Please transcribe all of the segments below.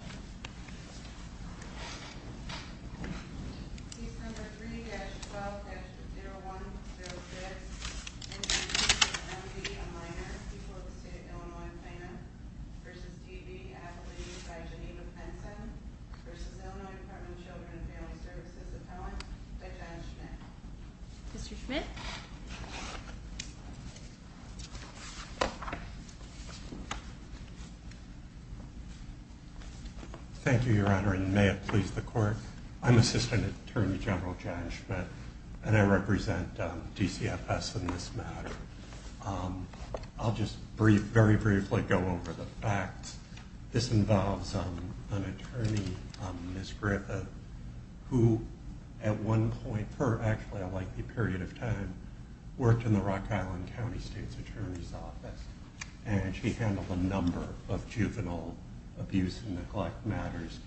and Minor, People of the State of Illinois and Plano, v. D.B., Affiliated by Geneva Penson, v. Illinois Department of Children and Family Services Appellant, Dijon Schmidt. Mr. Schmidt. Thank you, Your Honor, and may it please the Court. I'm Assistant Attorney General John Schmidt, and I represent DCFS in this matter. I'll just very briefly go over the facts. This involves an attorney, Ms. Griffith, who at one point, per actually a likely period of time, worked in the Rock Island County State's Attorney's Office, and she handled a number of juvenile abuse and neglect matters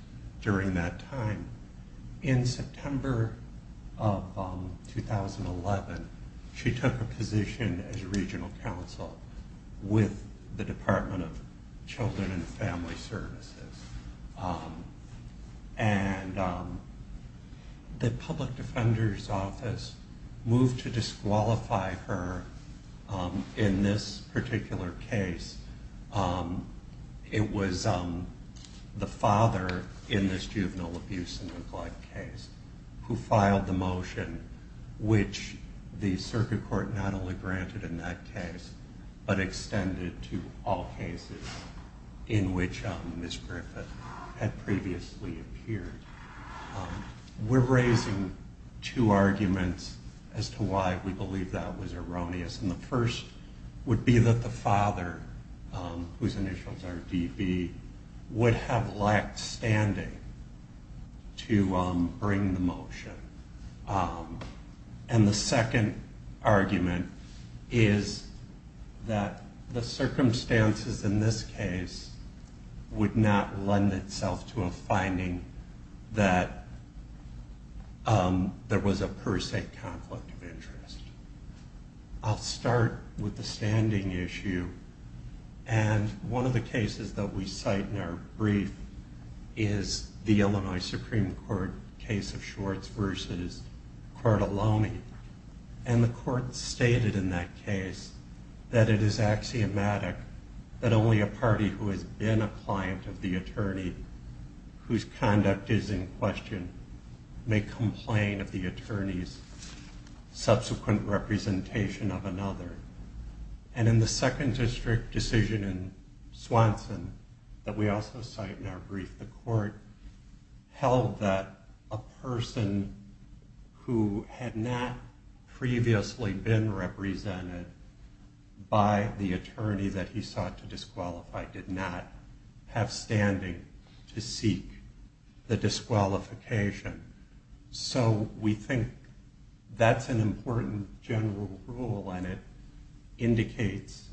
during that time. And in September of 2011, she took a position as regional counsel with the Department of Children and Family Services. And the Public Defender's Office moved to disqualify her in this particular case. It was the father in this juvenile abuse and neglect case who filed the motion, which the Circuit Court not only granted in that case, but extended to all cases in which Ms. Griffith had previously appeared. We're raising two arguments as to why we believe that was erroneous. And the first would be that the father, whose initials are DB, would have lacked standing to bring the motion. And the second argument is that the circumstances in this case would not lend itself to a finding that there was a per se conflict of interest. I'll start with the standing issue. And one of the cases that we cite in our brief is the Illinois Supreme Court case of Schwartz v. Cortalone. And the court stated in that case that it is axiomatic that only a party who has been a client of the attorney, whose conduct is in question, may complain of the attorney's subsequent representation of another. And in the second district decision in Swanson that we also cite in our brief, the court held that a person who had not previously been represented by the attorney that he sought to disqualify did not have standing to seek the disqualification. So we think that's an important general rule, and it indicates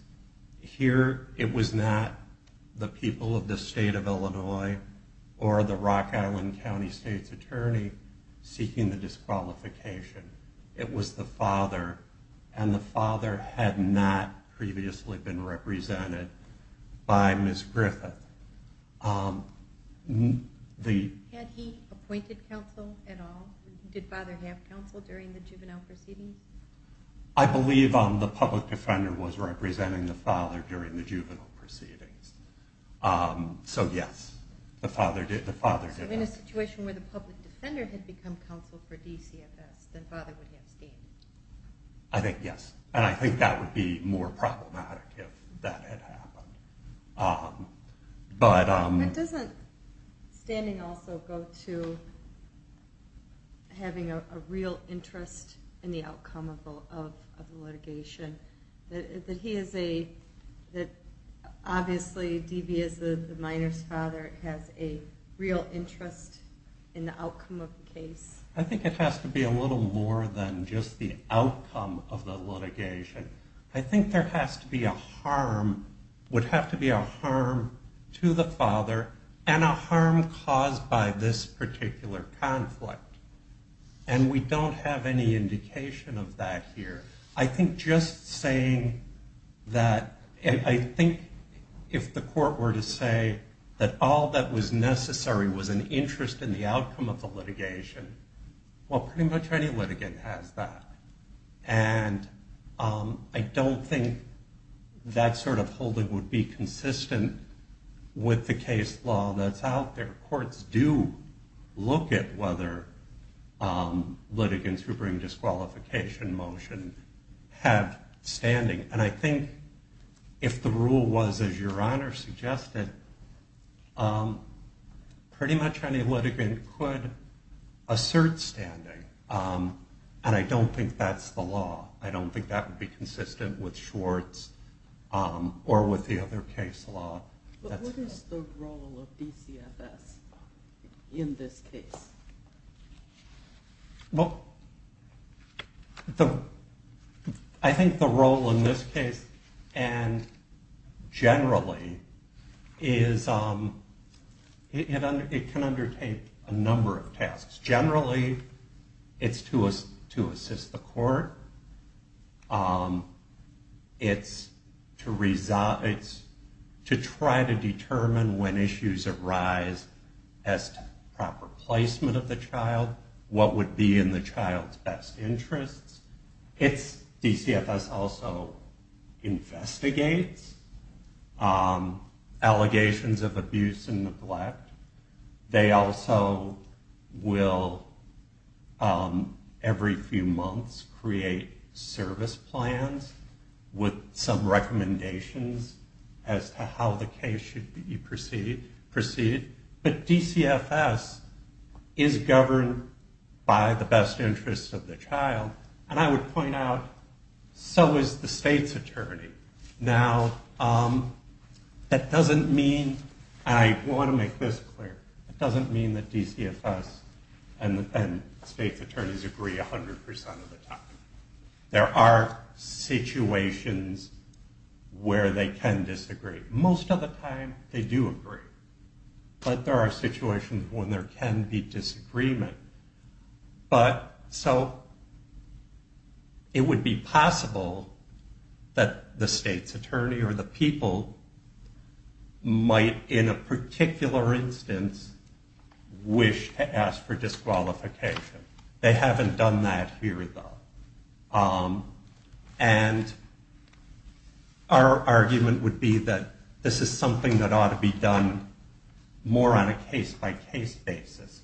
here it was not the people of the state of Illinois or the Rock Island County State's attorney seeking the disqualification. It was the father, and the father had not previously been represented by Ms. Griffith. Had he appointed counsel at all? Did father have counsel during the juvenile proceedings? I believe the public defender was representing the father during the juvenile proceedings. So yes, the father did. So in a situation where the public defender had become counsel for DCFS, then father would have standing? I think yes, and I think that would be more problematic if that had happened. But doesn't standing also go to having a real interest in the outcome of the litigation? That he is a, that obviously D.B. is the minor's father, has a real interest in the outcome of the case? I think it has to be a little more than just the outcome of the litigation. I think there has to be a harm, would have to be a harm to the father, and a harm caused by this particular conflict. And we don't have any indication of that here. I think just saying that, and I think if the court were to say that all that was necessary was an interest in the outcome of the litigation, well pretty much any litigant has that. And I don't think that sort of holding would be consistent with the case law that's out there. Courts do look at whether litigants who bring disqualification motion have standing. And I think if the rule was as your Honor suggested, pretty much any litigant could assert standing. And I don't think that's the law. I don't think that would be consistent with Schwartz or with the other case law. But what is the role of DCFS in this case? Well, I think the role in this case, and generally, is it can undertake a number of tasks. Generally, it's to assist the court, it's to try to determine when issues arise as to proper placement of the child, what would be in the child's best interests. DCFS also investigates allegations of abuse and neglect. They also will, every few months, create service plans with some recommendations as to how the case should be proceeded. But DCFS is governed by the best interests of the child. And I would point out, so is the state's attorney. Now, that doesn't mean, and I want to make this clear, it doesn't mean that DCFS and state's attorneys agree 100% of the time. There are situations where they can disagree. Most of the time, they do agree. But there are situations when there can be disagreement. But, so, it would be possible that the state's attorney or the people might, in a particular instance, wish to ask for disqualification. They haven't done that here, though. And our argument would be that this is something that ought to be done more on a case-by-case basis,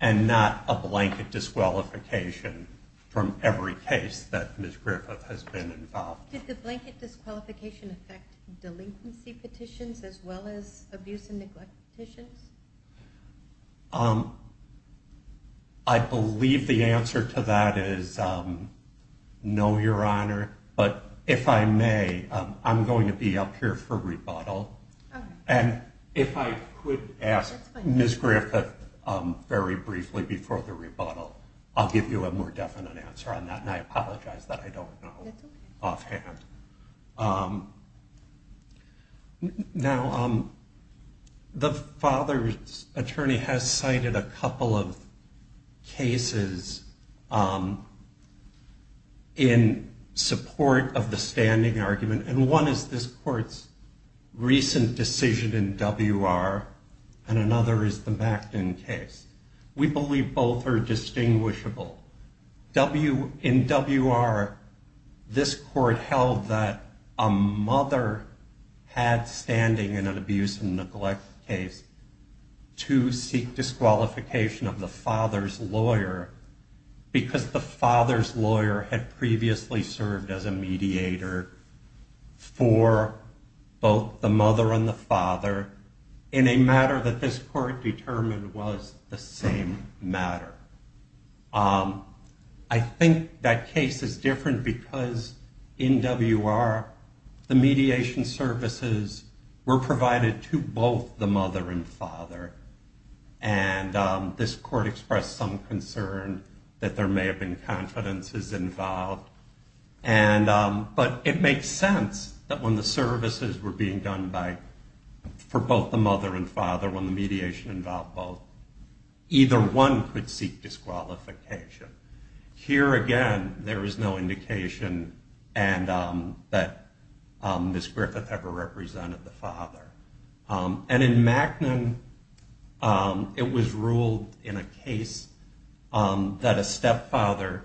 and not a blanket disqualification from every case that Ms. Griffith has been involved in. Did the blanket disqualification affect delinquency petitions as well as abuse and neglect petitions? I believe the answer to that is no, Your Honor. But if I may, I'm going to be up here for rebuttal. And if I could ask Ms. Griffith very briefly before the rebuttal, I'll give you a more definite answer on that. And I apologize that I don't know offhand. Now, the father's attorney has cited a couple of cases in support of the standing argument. And one is this Court's recent decision in WR, and another is the Macton case. We believe both are distinguishable. In WR, this Court held that a mother had standing in an abuse and neglect case to seek disqualification of the father's lawyer, because the father's lawyer had previously served as a mediator for both the mother and the father in a matter that this Court determined was the same matter. I think that case is different because in WR, the mediation services were provided to both the mother and father. And this Court expressed some concern that there may have been confidences involved. But it makes sense that when the services were being done for both the mother and father, when the mediation involved both, either one could seek disqualification. Here again, there is no indication that Ms. Griffith ever represented the father. And in Macton, it was ruled in a case that a stepfather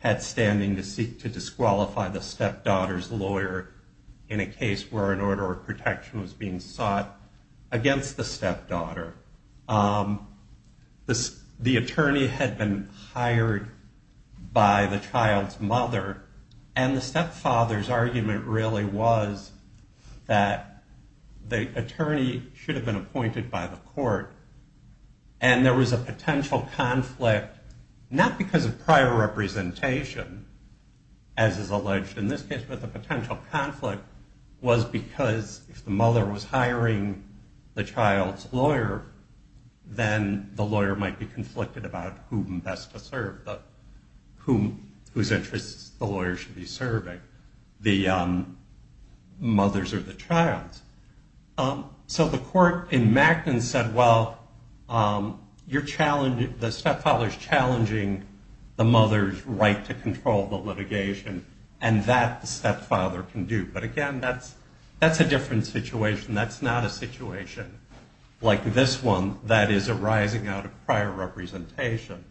had standing to seek to disqualify the stepdaughter's lawyer in a case where an order of protection was being sought against the stepdaughter. The attorney had been hired by the child's mother, and the stepfather's argument really was that the attorney should have been appointed by the court. And there was a potential conflict, not because of prior representation, as is alleged in this case, but the potential conflict was because if the mother was hiring the child's lawyer, then the lawyer might be conflicted about whom best to serve, whose interests the lawyer should be serving, the mothers or the child. So the court in Macton said, well, the stepfather's challenging the mother's right to control the litigation, and that the stepfather can do. But again, that's a different situation. That's not a situation like this one that is arising out of prior representation.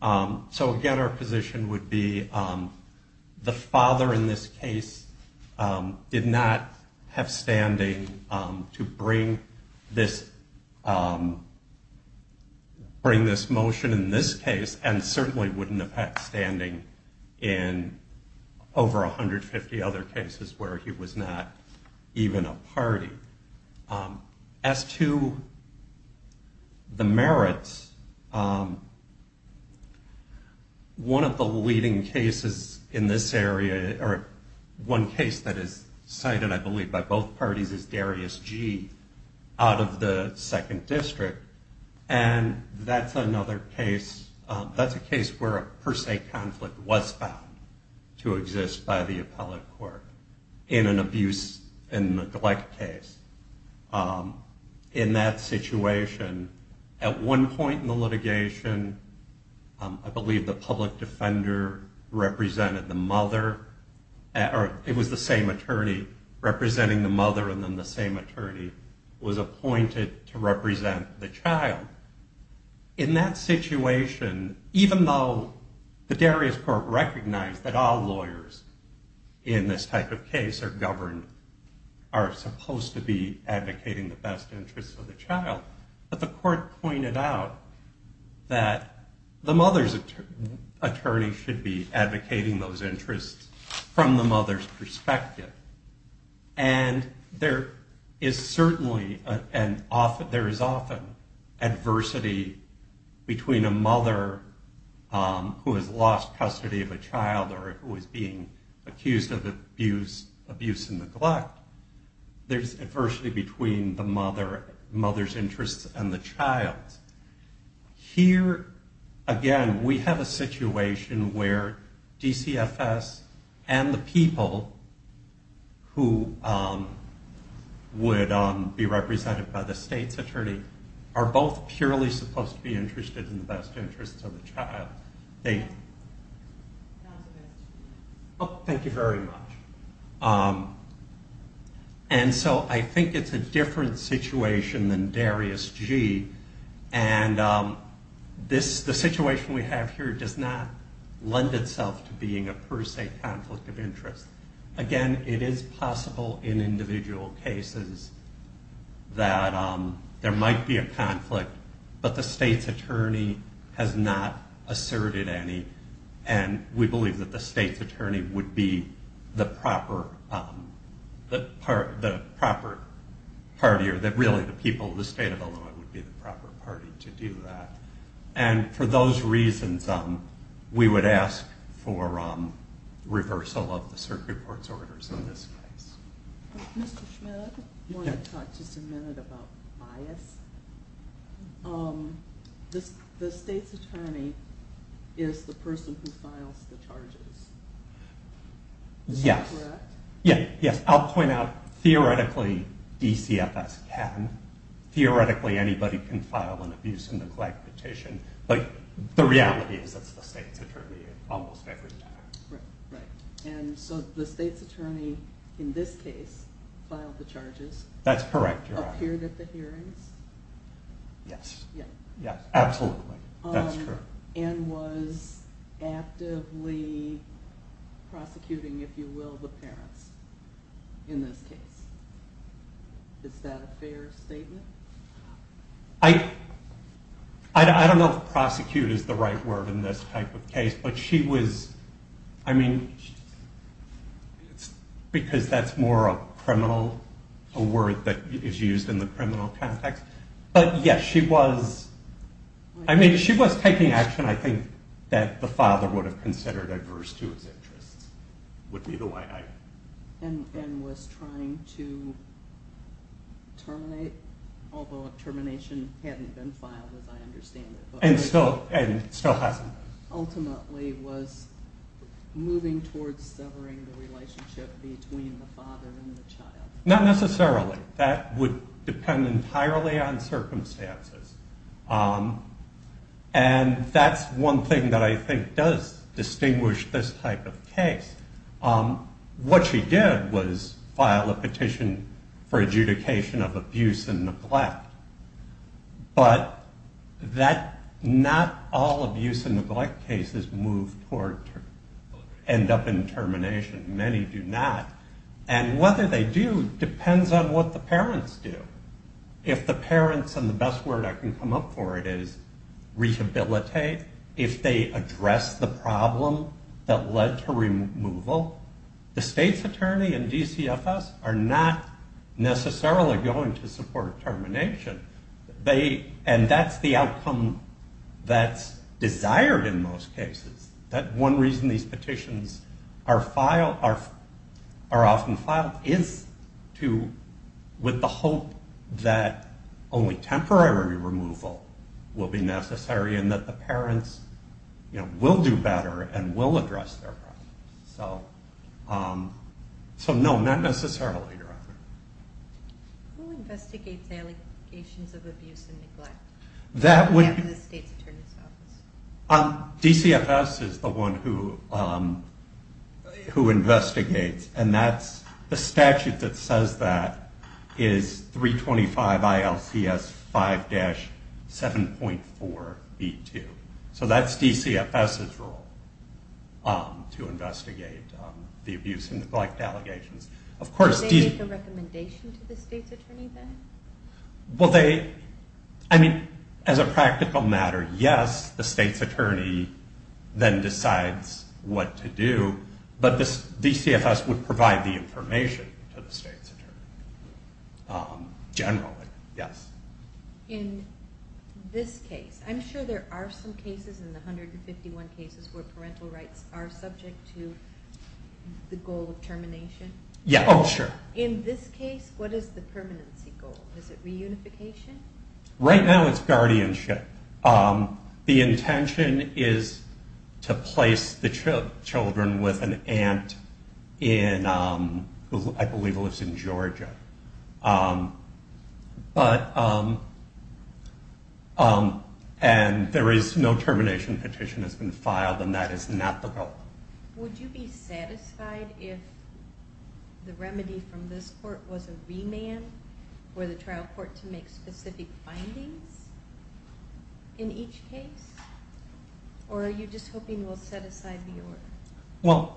So again, our position would be the father in this case did not have standing to bring this motion in this case, and certainly wouldn't have had standing in over 150 other cases where he was not even a party. As to the merits, one of the leading cases in this area, or one case that is cited, I believe, by both parties, is Darius G. out of the Second District. And that's another case, that's a case where a per se conflict was found to exist by the appellate court in an abuse and neglect case. In that situation, at one point in the litigation, I believe the public defender represented the mother, or it was the same attorney, representing the mother, and then the same attorney was appointed to represent the child. In that situation, even though the Darius Court recognized that all lawyers in this type of case are governed, are supposed to be advocating the best interests of the child, but the court pointed out that the mother's attorney should be the father. And there is certainly, and there is often, adversity between a mother who has lost custody of a child or who is being accused of abuse and neglect. There's adversity between the mother's interests and the child's. Here, again, we have a situation where DCFS and the people who would be represented by the state's attorney are both purely supposed to be interested in the best interests of the child. Thank you very much. And so I think it's a different situation than Darius G, and the situation we have here does not lend itself to being a per se conflict of interest. Again, it is possible in individual cases that there might be a conflict, but the state's attorney has not asserted any, and we believe that the state's attorney would be the proper party, or really the people of the state of Illinois would be the proper party to do that. And for those reasons, we would ask for reversal of the circuit court's orders in this case. Mr. Schmidt, I want to talk just a minute about bias. The state's attorney is the person who files the charges. Is that correct? Yes, I'll point out, theoretically, DCFS can. Theoretically, anybody can file an abuse and neglect petition, but the reality is that it's the state's attorney almost every day. And so the state's attorney, in this case, filed the charges. That's correct. And was actively prosecuting, if you will, the parents in this case? Is that a fair statement? I don't know if prosecute is the right word in this type of case, but she was... Because that's more a criminal word that is used in the criminal context. But yes, she was taking action, I think, that the father would have considered adverse to his interests. And was trying to terminate, although termination hadn't been filed, as I understand it. And still hasn't been. Ultimately was moving towards severing the relationship between the father and the child. Not necessarily. That would depend entirely on circumstances. And that's one thing that I think does distinguish this type of case. What she did was file a petition for adjudication of abuse and neglect. But not all abuse and neglect cases end up in termination. Many do not. And whether they do depends on what the parents do. If the parents, and the best word I can come up for it is rehabilitate. If they address the problem that led to removal. The state's attorney and DCFS are not necessarily going to support termination. And that's the outcome that's desired in most cases. That one reason these petitions are often filed is with the hope that only temporary removal will be necessary and that the parents will do better and will address their problems. So no, not necessarily. Who investigates allegations of abuse and neglect? DCFS is the one who investigates and that's the statute that says that is 325 ILCS 5-7.4B2. So that's DCFS's role to investigate the abuse and neglect allegations. Do they make a recommendation to the state's attorney then? As a practical matter, yes, the state's attorney then decides what to do. But DCFS would provide the information to the state's attorney. Generally, yes. In this case, I'm sure there are some cases in the 151 cases where parental rights are subject to the goal of termination. In this case, what is the permanency goal? Is it reunification? Right now it's guardianship. The intention is to place the children with an aunt who I believe lives in Georgia. And no termination petition has been filed and that is not the goal. Would you be satisfied if the remedy from this court was a remand for the trial court to make specific findings in each case? Or are you just hoping we'll set aside the order?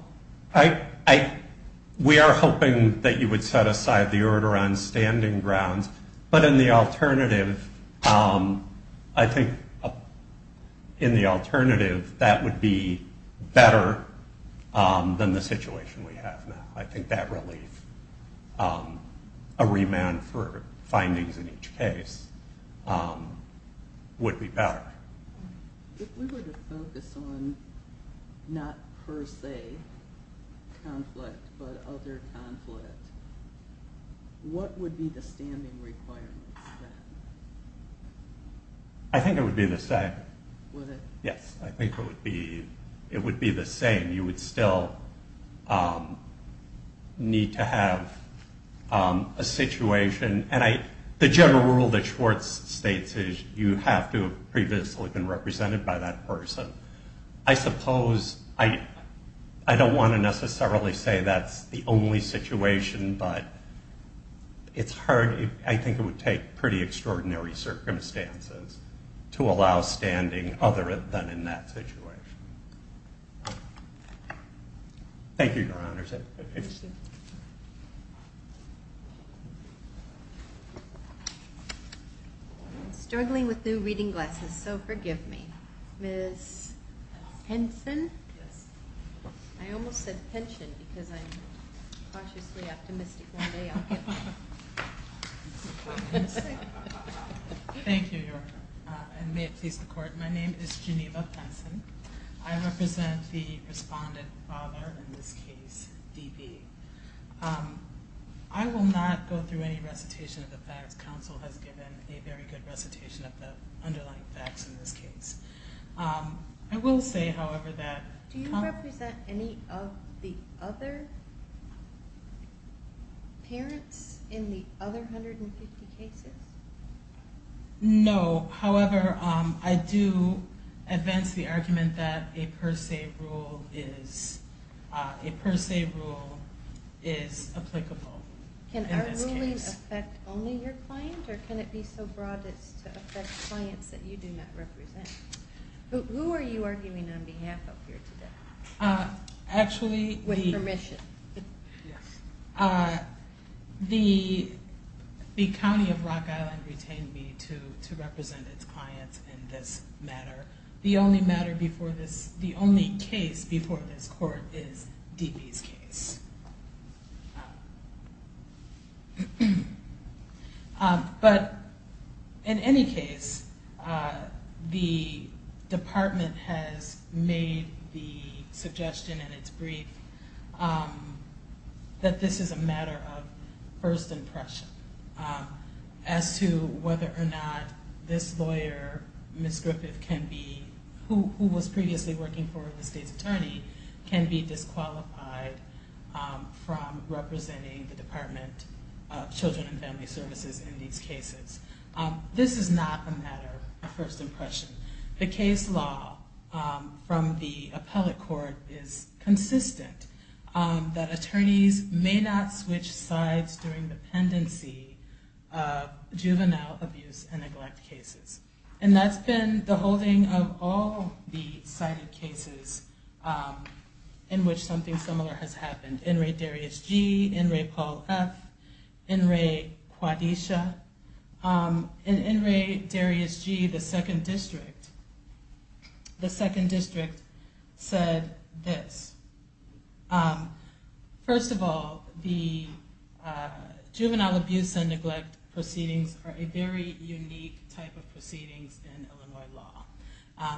We are hoping that you would set aside the order on standing grounds, but in the alternative I think that would be better than the situation we have now. I think that relief, a remand for findings in each case, would be better. If we were to focus on not per se conflict, but other conflict, what would be the standing requirements then? I think it would be the same. Yes, I think it would be the same. You would still need to have a situation. The general rule that Schwartz states is you have to have previously been represented by that person. I don't want to necessarily say that's the only situation, but I think it would take pretty extraordinary circumstances to allow standing other than in that situation. Thank you, Your Honors. I'm struggling with new reading glasses, so forgive me. Ms. Henson? I almost said pension because I'm cautiously optimistic one day I'll get one. Thank you, Your Honor, and may it please the Court, my name is Geneva Henson. I represent the respondent father in this case, D.B. I will not go through any recitation of the facts. Counsel has given a very good recitation of the underlying facts in this case. Do you represent any of the other parents in the other 150 cases? No, however, I do advance the argument that a per se rule is applicable in this case. Can our ruling affect only your client, or can it be so broad as to affect clients that you do not represent? Who are you arguing on behalf of here today, with permission? The County of Rock Island retained me to represent its clients in this matter. The only case before this Court is D.B.'s case. But in any case, the Department has made the suggestion in its brief that this is a matter of first impression as to whether or not this lawyer, Ms. Griffith, who was previously working for the State's Attorney, can be disqualified from representing the Department of Children and Family Services in these cases. This is not a matter of first impression. The case law from the appellate court is consistent that attorneys may not switch sides during the pendency of juvenile abuse and neglect cases. And that's been the holding of all the cited cases in which something similar has happened. N. Ray Darius G., N. Ray Paul F., N. Ray Quadisha, and N. Ray Darius G., the Second District, said this. First of all, the juvenile abuse and neglect proceedings are a very unique type of proceedings in Illinois law.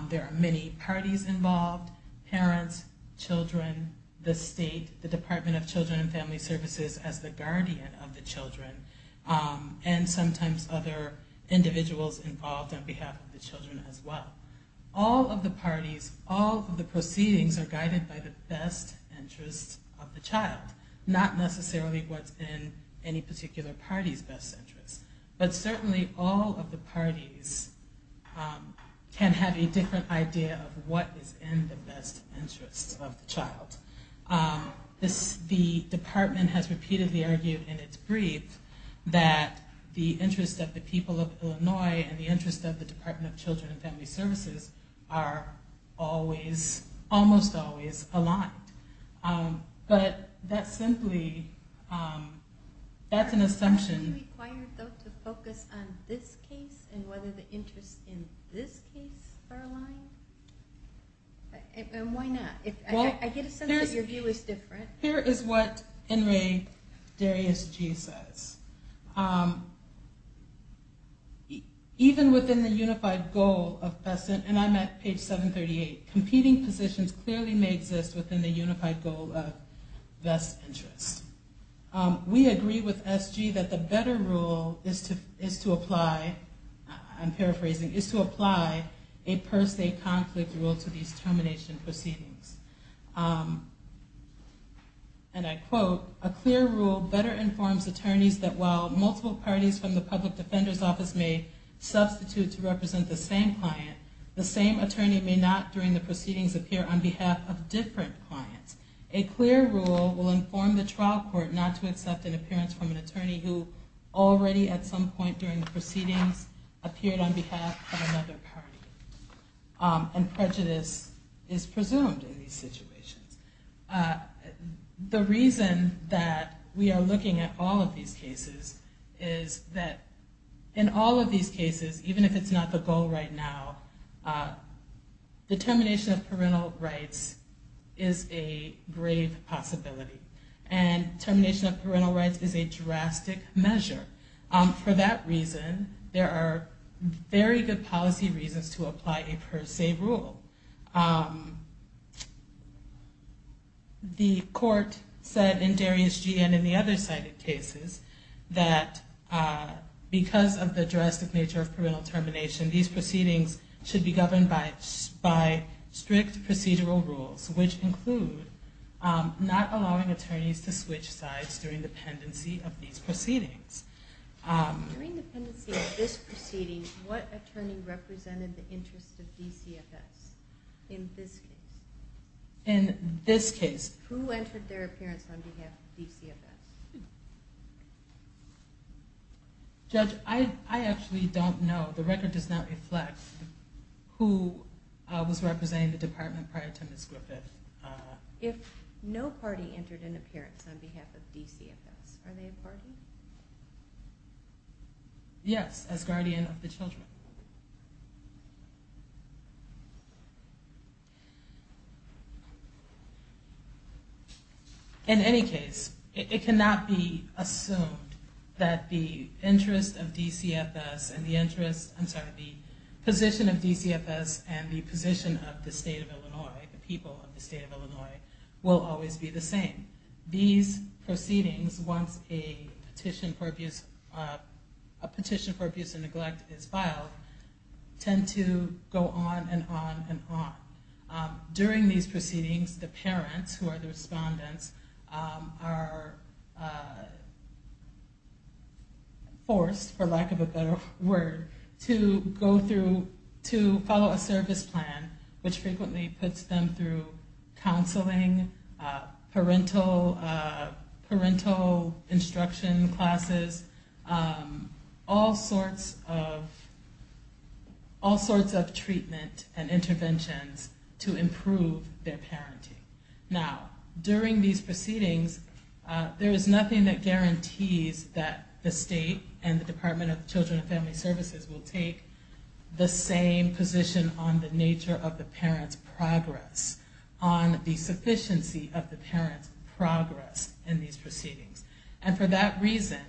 There are many parties involved, parents, children, the State, the Department of Children and Family Services as the guardian of the children, and sometimes other individuals involved on behalf of the children as well. All of the parties, all of the proceedings are guided by the best interests of the child. Not necessarily what's in any particular party's best interest. But certainly all of the parties can have a different idea of what is in the best interest of the child. The Department has repeatedly argued in its brief that the interest of the people of Illinois and the interest of the Department of Children and Family Services are almost always aligned. But that's simply an assumption. Here is what N. Ray Darius G. says. Even within the unified goal of best interests, and I'm at page 738, competing positions clearly may exist within the unified goal of best interests. We agree with S. G. that the better rule is to apply, I'm paraphrasing, is to apply a per se conflict rule to these termination proceedings. And I quote, a clear rule better informs attorneys that while multiple parties from the public defender's office may substitute to represent the same client, the same attorney may not during the proceedings appear on behalf of different clients. A clear rule will inform the trial court not to accept an appearance from an attorney who already at some point during the proceedings appeared on behalf of another party. And prejudice is presumed in these situations. The reason that we are looking at all of these cases is that in all of these cases, even if it's not the goal right now, the termination of parental rights is a grave possibility. And termination of parental rights is a drastic measure. For that reason, there are very good policy reasons to apply a per se rule. The court said in Darius G. and in the other cited cases, that because of the drastic nature of parental termination, these proceedings should be governed by strict procedural rules, which include not allowing attorneys to switch sides during the pendency of these proceedings. During the pendency of this proceeding, what attorney represented the interest of DCFS in this case? Who entered their appearance on behalf of DCFS? Judge, I actually don't know. The record does not reflect who was representing the department prior to Ms. Griffith. If no party entered an appearance on behalf of DCFS, are they a party? Yes, as guardian of the children. In any case, it cannot be assumed that the interest of DCFS and the position of DCFS and the position of the state of Illinois, the people of the state of Illinois, will always be the same. These proceedings, once a petition for abuse and neglect is filed, tend to go on and on and on. During these proceedings, the parents, who are the respondents, are forced, for lack of a better word, to follow a service plan, which frequently puts them through counseling, parental instruction classes, all sorts of treatment and interventions to improve their parenting. Now, during these proceedings, there is nothing that guarantees that the state and the Department of Children and Family Services will take the same position on the nature of the parents' progress, on the sufficiency of the parents' progress in these proceedings. And for that reason,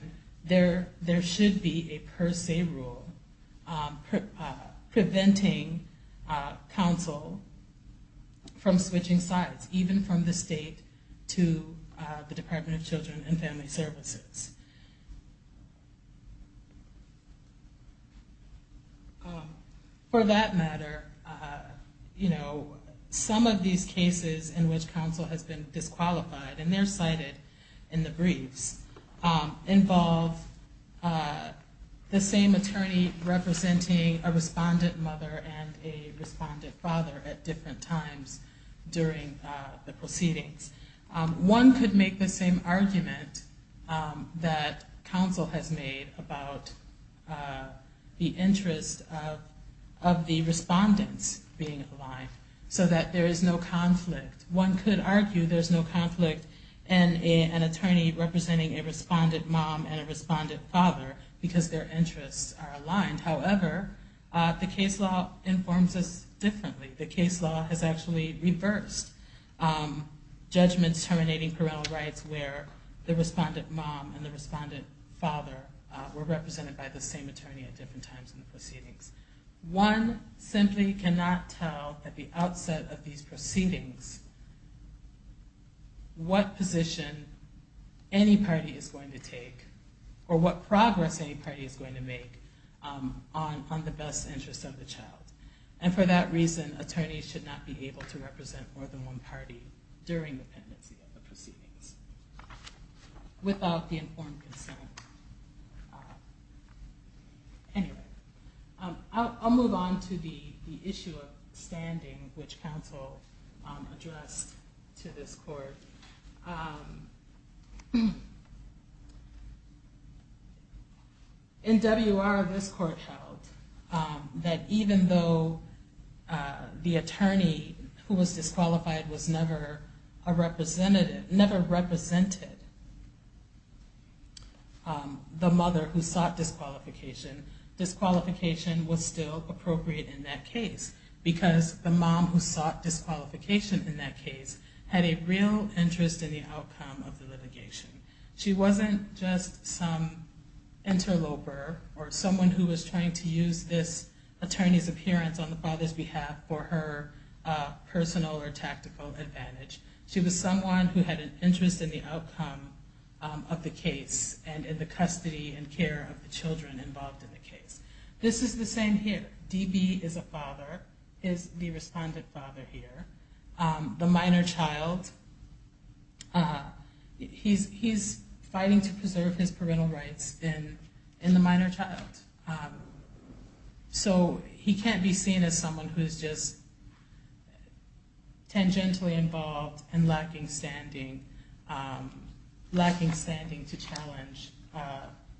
there should be a per se rule preventing counsel from switching sides, even from the state to the Department of Children and Family Services. For that matter, some of these cases in which counsel has been disqualified, and they're cited in the briefs, involve the same attorney representing a respondent mother and a respondent father at different times during the proceedings. One could make the same argument that counsel has made about the interest of the respondents being aligned, so that there is no conflict. One could argue there's no conflict in an attorney representing a respondent mom and a respondent father, because their interests are aligned. However, the case law informs us differently. The case law has actually reversed judgments terminating parental rights where the respondent mom and the respondent father were represented by the same attorney at different times in the proceedings. One simply cannot tell at the outset of these proceedings what position any party is going to take, or what progress any party is going to make on the best interest of the child. And for that reason, attorneys should not be able to represent more than one party during the pendency of the proceedings. Without the informed consent. I'll move on to the issue of standing, which counsel addressed to this court. In WR, this court held that even though the attorney who was disqualified was never a representative, never represented the mother who sought disqualification, disqualification was still appropriate in that case, because the mom who sought disqualification in that case had a real interest in the outcome of the litigation. She wasn't just some interloper or someone who was trying to use this attorney's appearance on the father's behalf for her personal or tactical advantage. She was someone who had an interest in the outcome of the case and in the custody and care of the children involved in the case. This is the same here. DB is a father, is the respondent father here. The minor child, he's fighting to preserve his parental rights in the minor child. So he can't be seen as someone who is just tangentially involved and lacking standing to challenge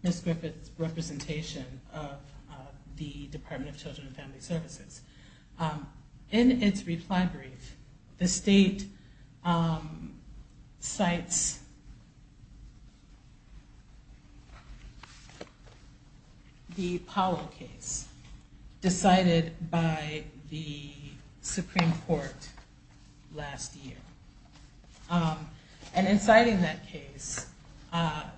Ms. Griffith's representation of the Department of Children and Family Services. In its reply brief, the state cites the Powell case decided by the Supreme Court last year. And in citing that case,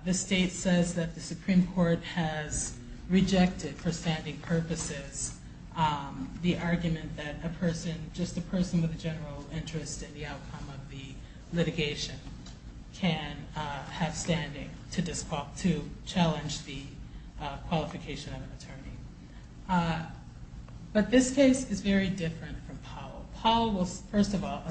the state says that the Supreme Court has rejected for standing purposes the argument that just a person with a general interest in the outcome of the litigation can have standing to challenge the qualification of an attorney. But this case is very different from Powell. Powell was, first of all,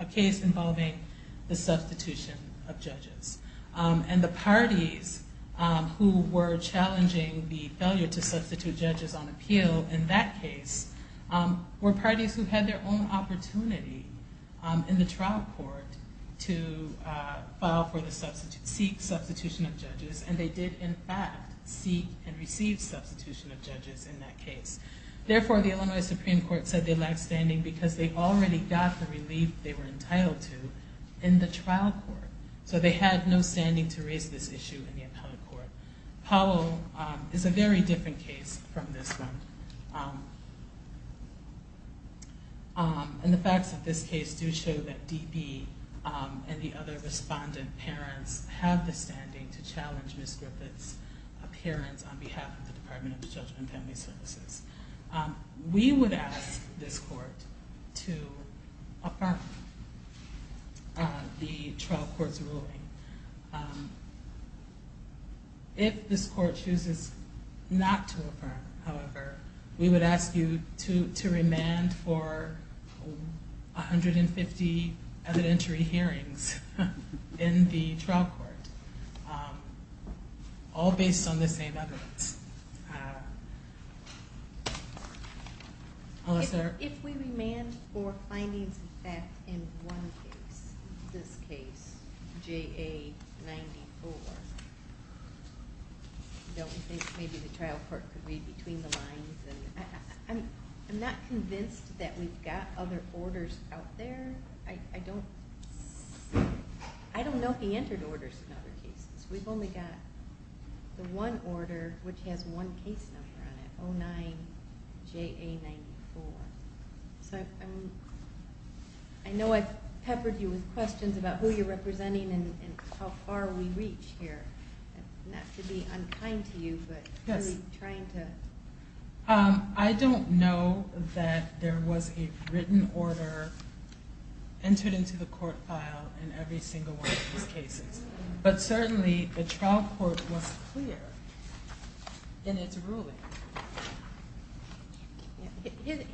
a case involving the substitution of judges. And the parties who were challenging the failure to substitute judges on appeal in that case were parties who had their own opportunity in the trial court to file for the substitute, seek substitution of judges, and they did in fact seek and receive substitution of judges in that case. Therefore, the Illinois Supreme Court said they lacked standing because they already got the relief they were entitled to in the trial court. So they had no standing to raise this issue in the appellate court. Powell is a very different case from this one. And the facts of this case do show that D.B. and the other respondent parents have the standing to challenge Ms. Griffith's appearance on behalf of the Department of Children and Family Services. We would ask this court to affirm the trial court's ruling. If this court chooses not to affirm, however, we would ask you to remand for 150 evidentiary hearings in the trial court, all based on the same evidence. If we remand for findings of fact in one case, this case, J.A. 94, don't we think maybe the trial court could read between the lines? I'm not convinced that we've got other orders out there. I don't know if we entered orders in other cases. We've only got the one order which has one case number on it. I know I've peppered you with questions about who you're representing and how far we've reached here. Not to be unkind to you, but are you trying to... I don't know that there was a written order entered into the court file in every single one of these cases. But certainly the trial court was clear in its ruling.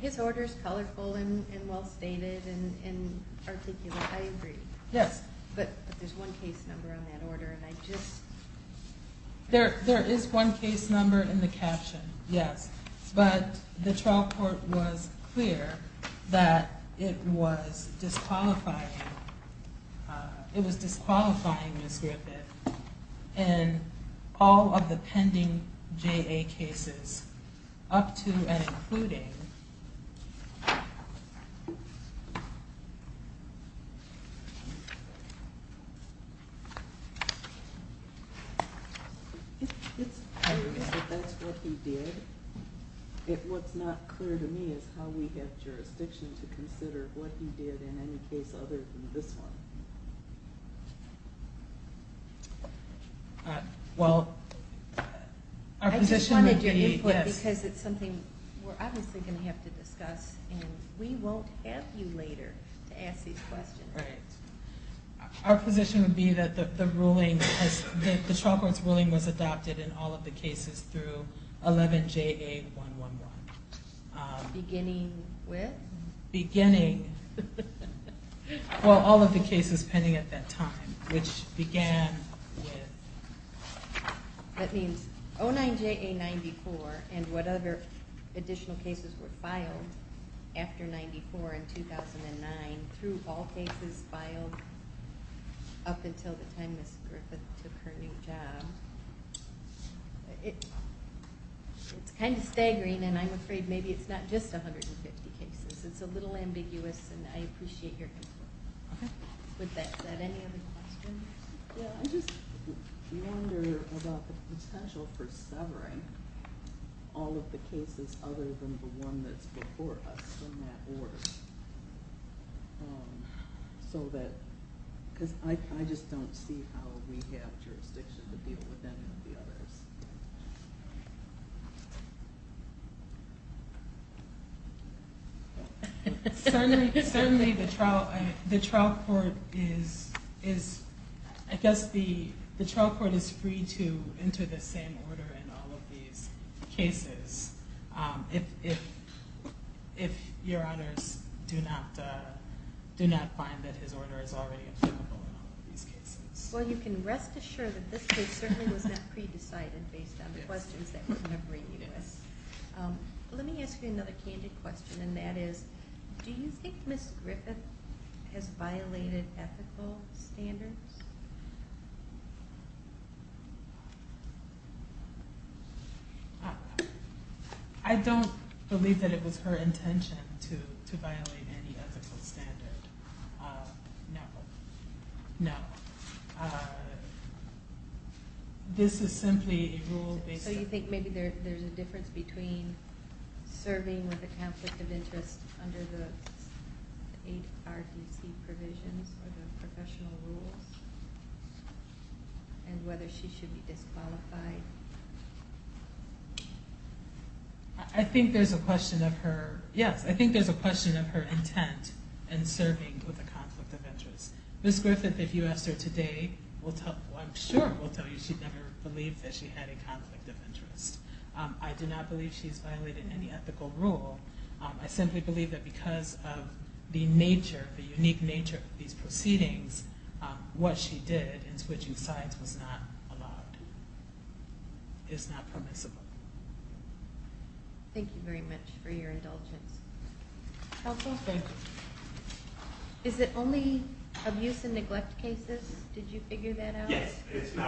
His order is colorful and well stated and articulate. I agree. But there's one case number on that order. There is one case number in the caption, yes. But the trial court was clear that it was disqualifying in all of the pending J.A. cases, up to and including... It's obvious that that's what he did. What's not clear to me is how we get jurisdiction to consider what he did in any case other than this one. I just wanted your input because it's something we're obviously going to have to discuss and we won't have you later to ask these questions. Our position would be that the trial court's ruling was adopted in all of the cases through 11 J.A. 111. All of the cases pending at that time, which began with... That means 09 J.A. 94 and whatever additional cases were filed after 94 in 2009 through all cases filed up until the time Ms. Griffith took her new job. It's kind of staggering and I'm afraid maybe it's not just 150 cases. It's a little ambiguous and I appreciate your input. I just wonder about the potential for severing all of the cases other than the one that's before us in that order. I just don't see how we have jurisdiction to deal with any of the others. Certainly the trial court is... If your honors do not find that his order is already applicable in all of these cases. Well you can rest assured that this case certainly was not pre-decided based on the questions that we're going to bring you with. Let me ask you another candid question and that is, do you think Ms. Griffith has violated ethical standards? I don't believe that it was her intention to violate any ethical standard. No. This is simply a rule based on... So you think maybe there's a difference between serving with a conflict of interest under the ARDC provisions or the professional rules? And whether she should be disqualified? I think there's a question of her... Yes, I think there's a question of her intent in serving with a conflict of interest. Ms. Griffith, if you asked her today, I'm sure will tell you she'd never believe that she had a conflict of interest. I do not believe she's violated any ethical rule. I simply believe that because of the nature, the unique nature of these proceedings, what she did in switching sides was not allowed. It is not permissible. Thank you very much for your indulgence. Counsel? Is it only abuse and neglect cases? Did you figure that out? Yes. And how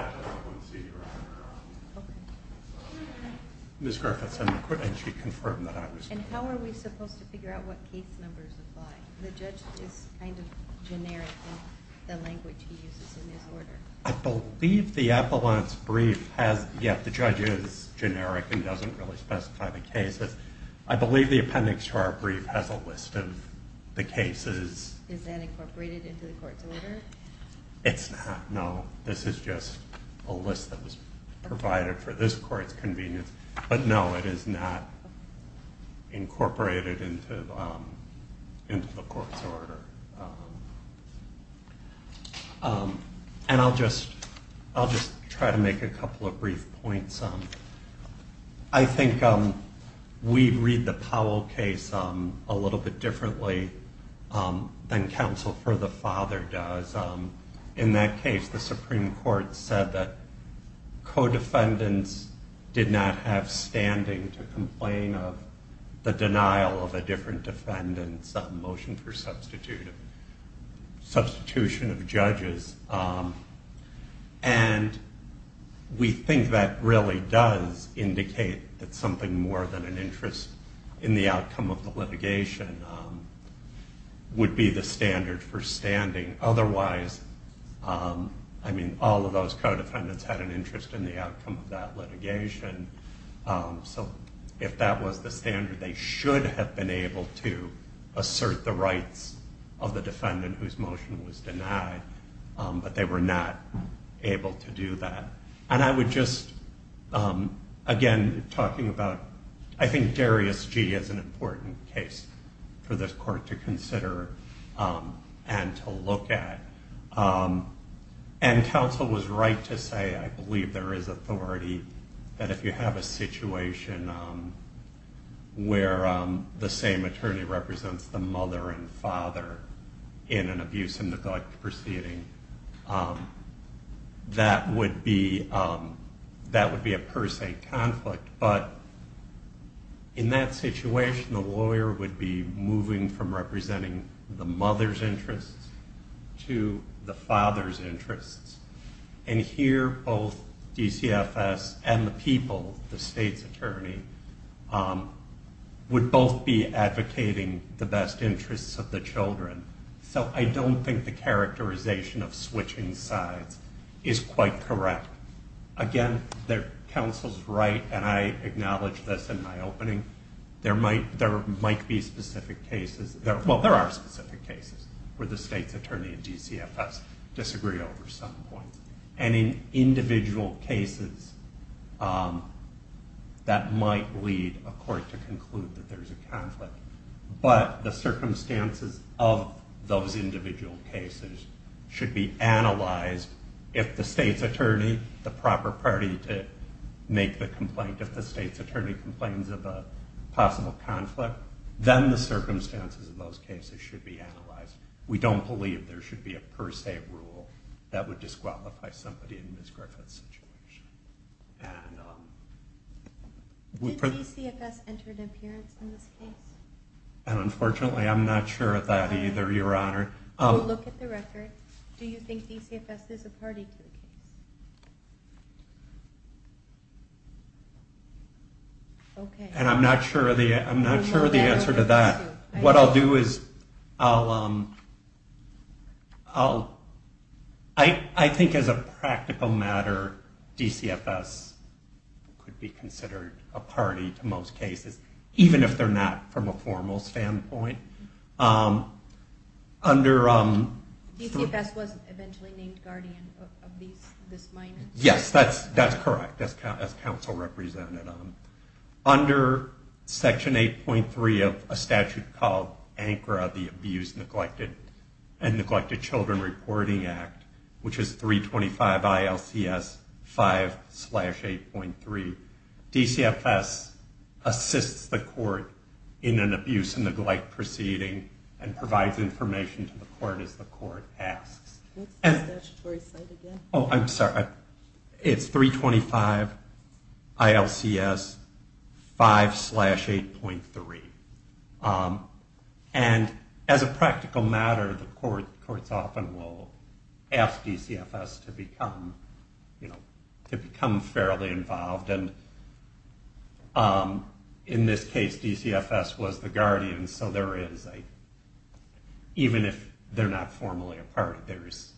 are we supposed to figure out what case numbers apply? The judge is kind of generic in the language he uses in his order. I believe the appellant's brief has... Yes, the judge is generic and doesn't really specify the cases. I believe the appendix to our brief has a list of the cases. Is that incorporated into the court's order? It's not, no. This is just a list that was provided for this court's convenience. I'll just try to make a couple of brief points. I think we read the Powell case a little bit differently than counsel for the father does. In that case, the Supreme Court said that co-defendants did not have standing to complain of the denial of a different defendant's motion for substitution of judges. And we think that really does indicate that something more than an interest in the outcome of the litigation would be the standard for standing. Otherwise, all of those co-defendants had an interest in the outcome of that litigation. So if that was the standard, they should have been able to assert the rights of the defendant whose motion was denied, but they were not able to do that. And I would just, again, talking about, I think Darius G is an important case for this court to consider and to look at. And counsel was right to say, I believe there is authority that if you have a situation where the same attorney represents the mother and father in an abuse and neglect proceeding, that would be a per se conflict. But in that situation, the lawyer would be moving from representing the mother's interests to the father's interests. And here, both DCFS and the people, the state's attorney, would both be in the interests of the children. So I don't think the characterization of switching sides is quite correct. Again, counsel's right, and I acknowledge this in my opening, there might be specific cases, well, there are specific cases where the state's attorney and DCFS disagree over some points. And in individual cases, that might lead a court to conclude that there's a circumstances of those individual cases should be analyzed if the state's attorney, the proper party to make the complaint, if the state's attorney complains of a possible conflict, then the circumstances of those cases should be analyzed. We don't believe there should be a per se rule that would disqualify somebody in Ms. Griffith's situation. Did DCFS enter an appearance in this case? And unfortunately, I'm not sure of that either, Your Honor. We'll look at the record. Do you think DCFS is a party to the case? And I'm not sure of the answer to that. What I'll do is, I'll I think as a practical matter, DCFS could be considered a party to most cases, even if they're not from a formal standpoint. DCFS was eventually named guardian of these minors. Yes, that's correct, as counsel represented. Under Section 8.3 of a statute called ANCRA, the Abuse, Neglected and Neglected Children Reporting Act, which is 325 ILCS 5-8.3, DCFS assists the court in an abuse and neglect proceeding and provides information to the court as the court asks. What's the statutory site again? Oh, I'm sorry. It's 325 ILCS 5-8.3. And as a practical matter, the courts often will ask DCFS to become fairly involved, and in this case, DCFS was the guardian, so there is even if they're not formally a party, there is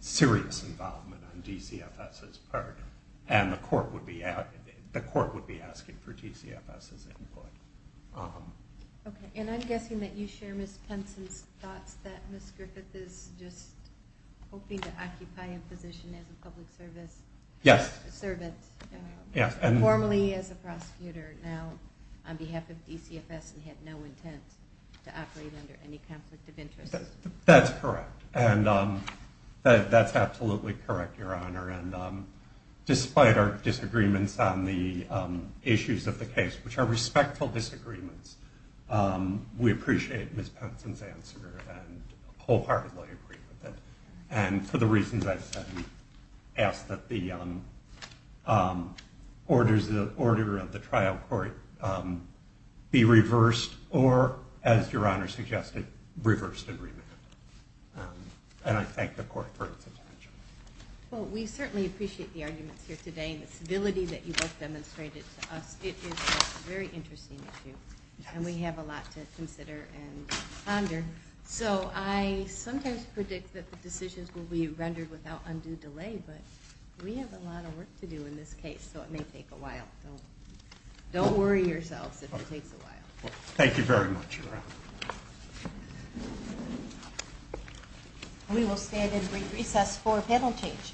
serious involvement on DCFS's part, and the court would be asking for DCFS's input. Okay, and I'm guessing that you share Ms. Penson's thoughts that Ms. Griffith is just hoping to occupy a position as a public servant, formally as a prosecutor, now on behalf of DCFS and had no intent to operate under any conflict of interest. That's correct. And that's absolutely correct, Your Honor, and despite our disagreements on the issues of the case, which are respectful disagreements, we appreciate Ms. Penson's answer and wholeheartedly agree with it, and for the reasons I've said, ask that the order of the trial court be reversed or, as Your Honor suggested, reversed and remanded. And I thank the court for its attention. Well, we certainly appreciate the arguments here today and the civility that you both demonstrated to us. It is a very interesting issue and we have a lot to consider and ponder, so I sometimes predict that the decisions will be rendered without undue delay, but we have a lot of work to do in this case, so it may take a while. Don't worry yourselves if it takes a while. Thank you very much, Your Honor. We will stand and brief recess for panel change.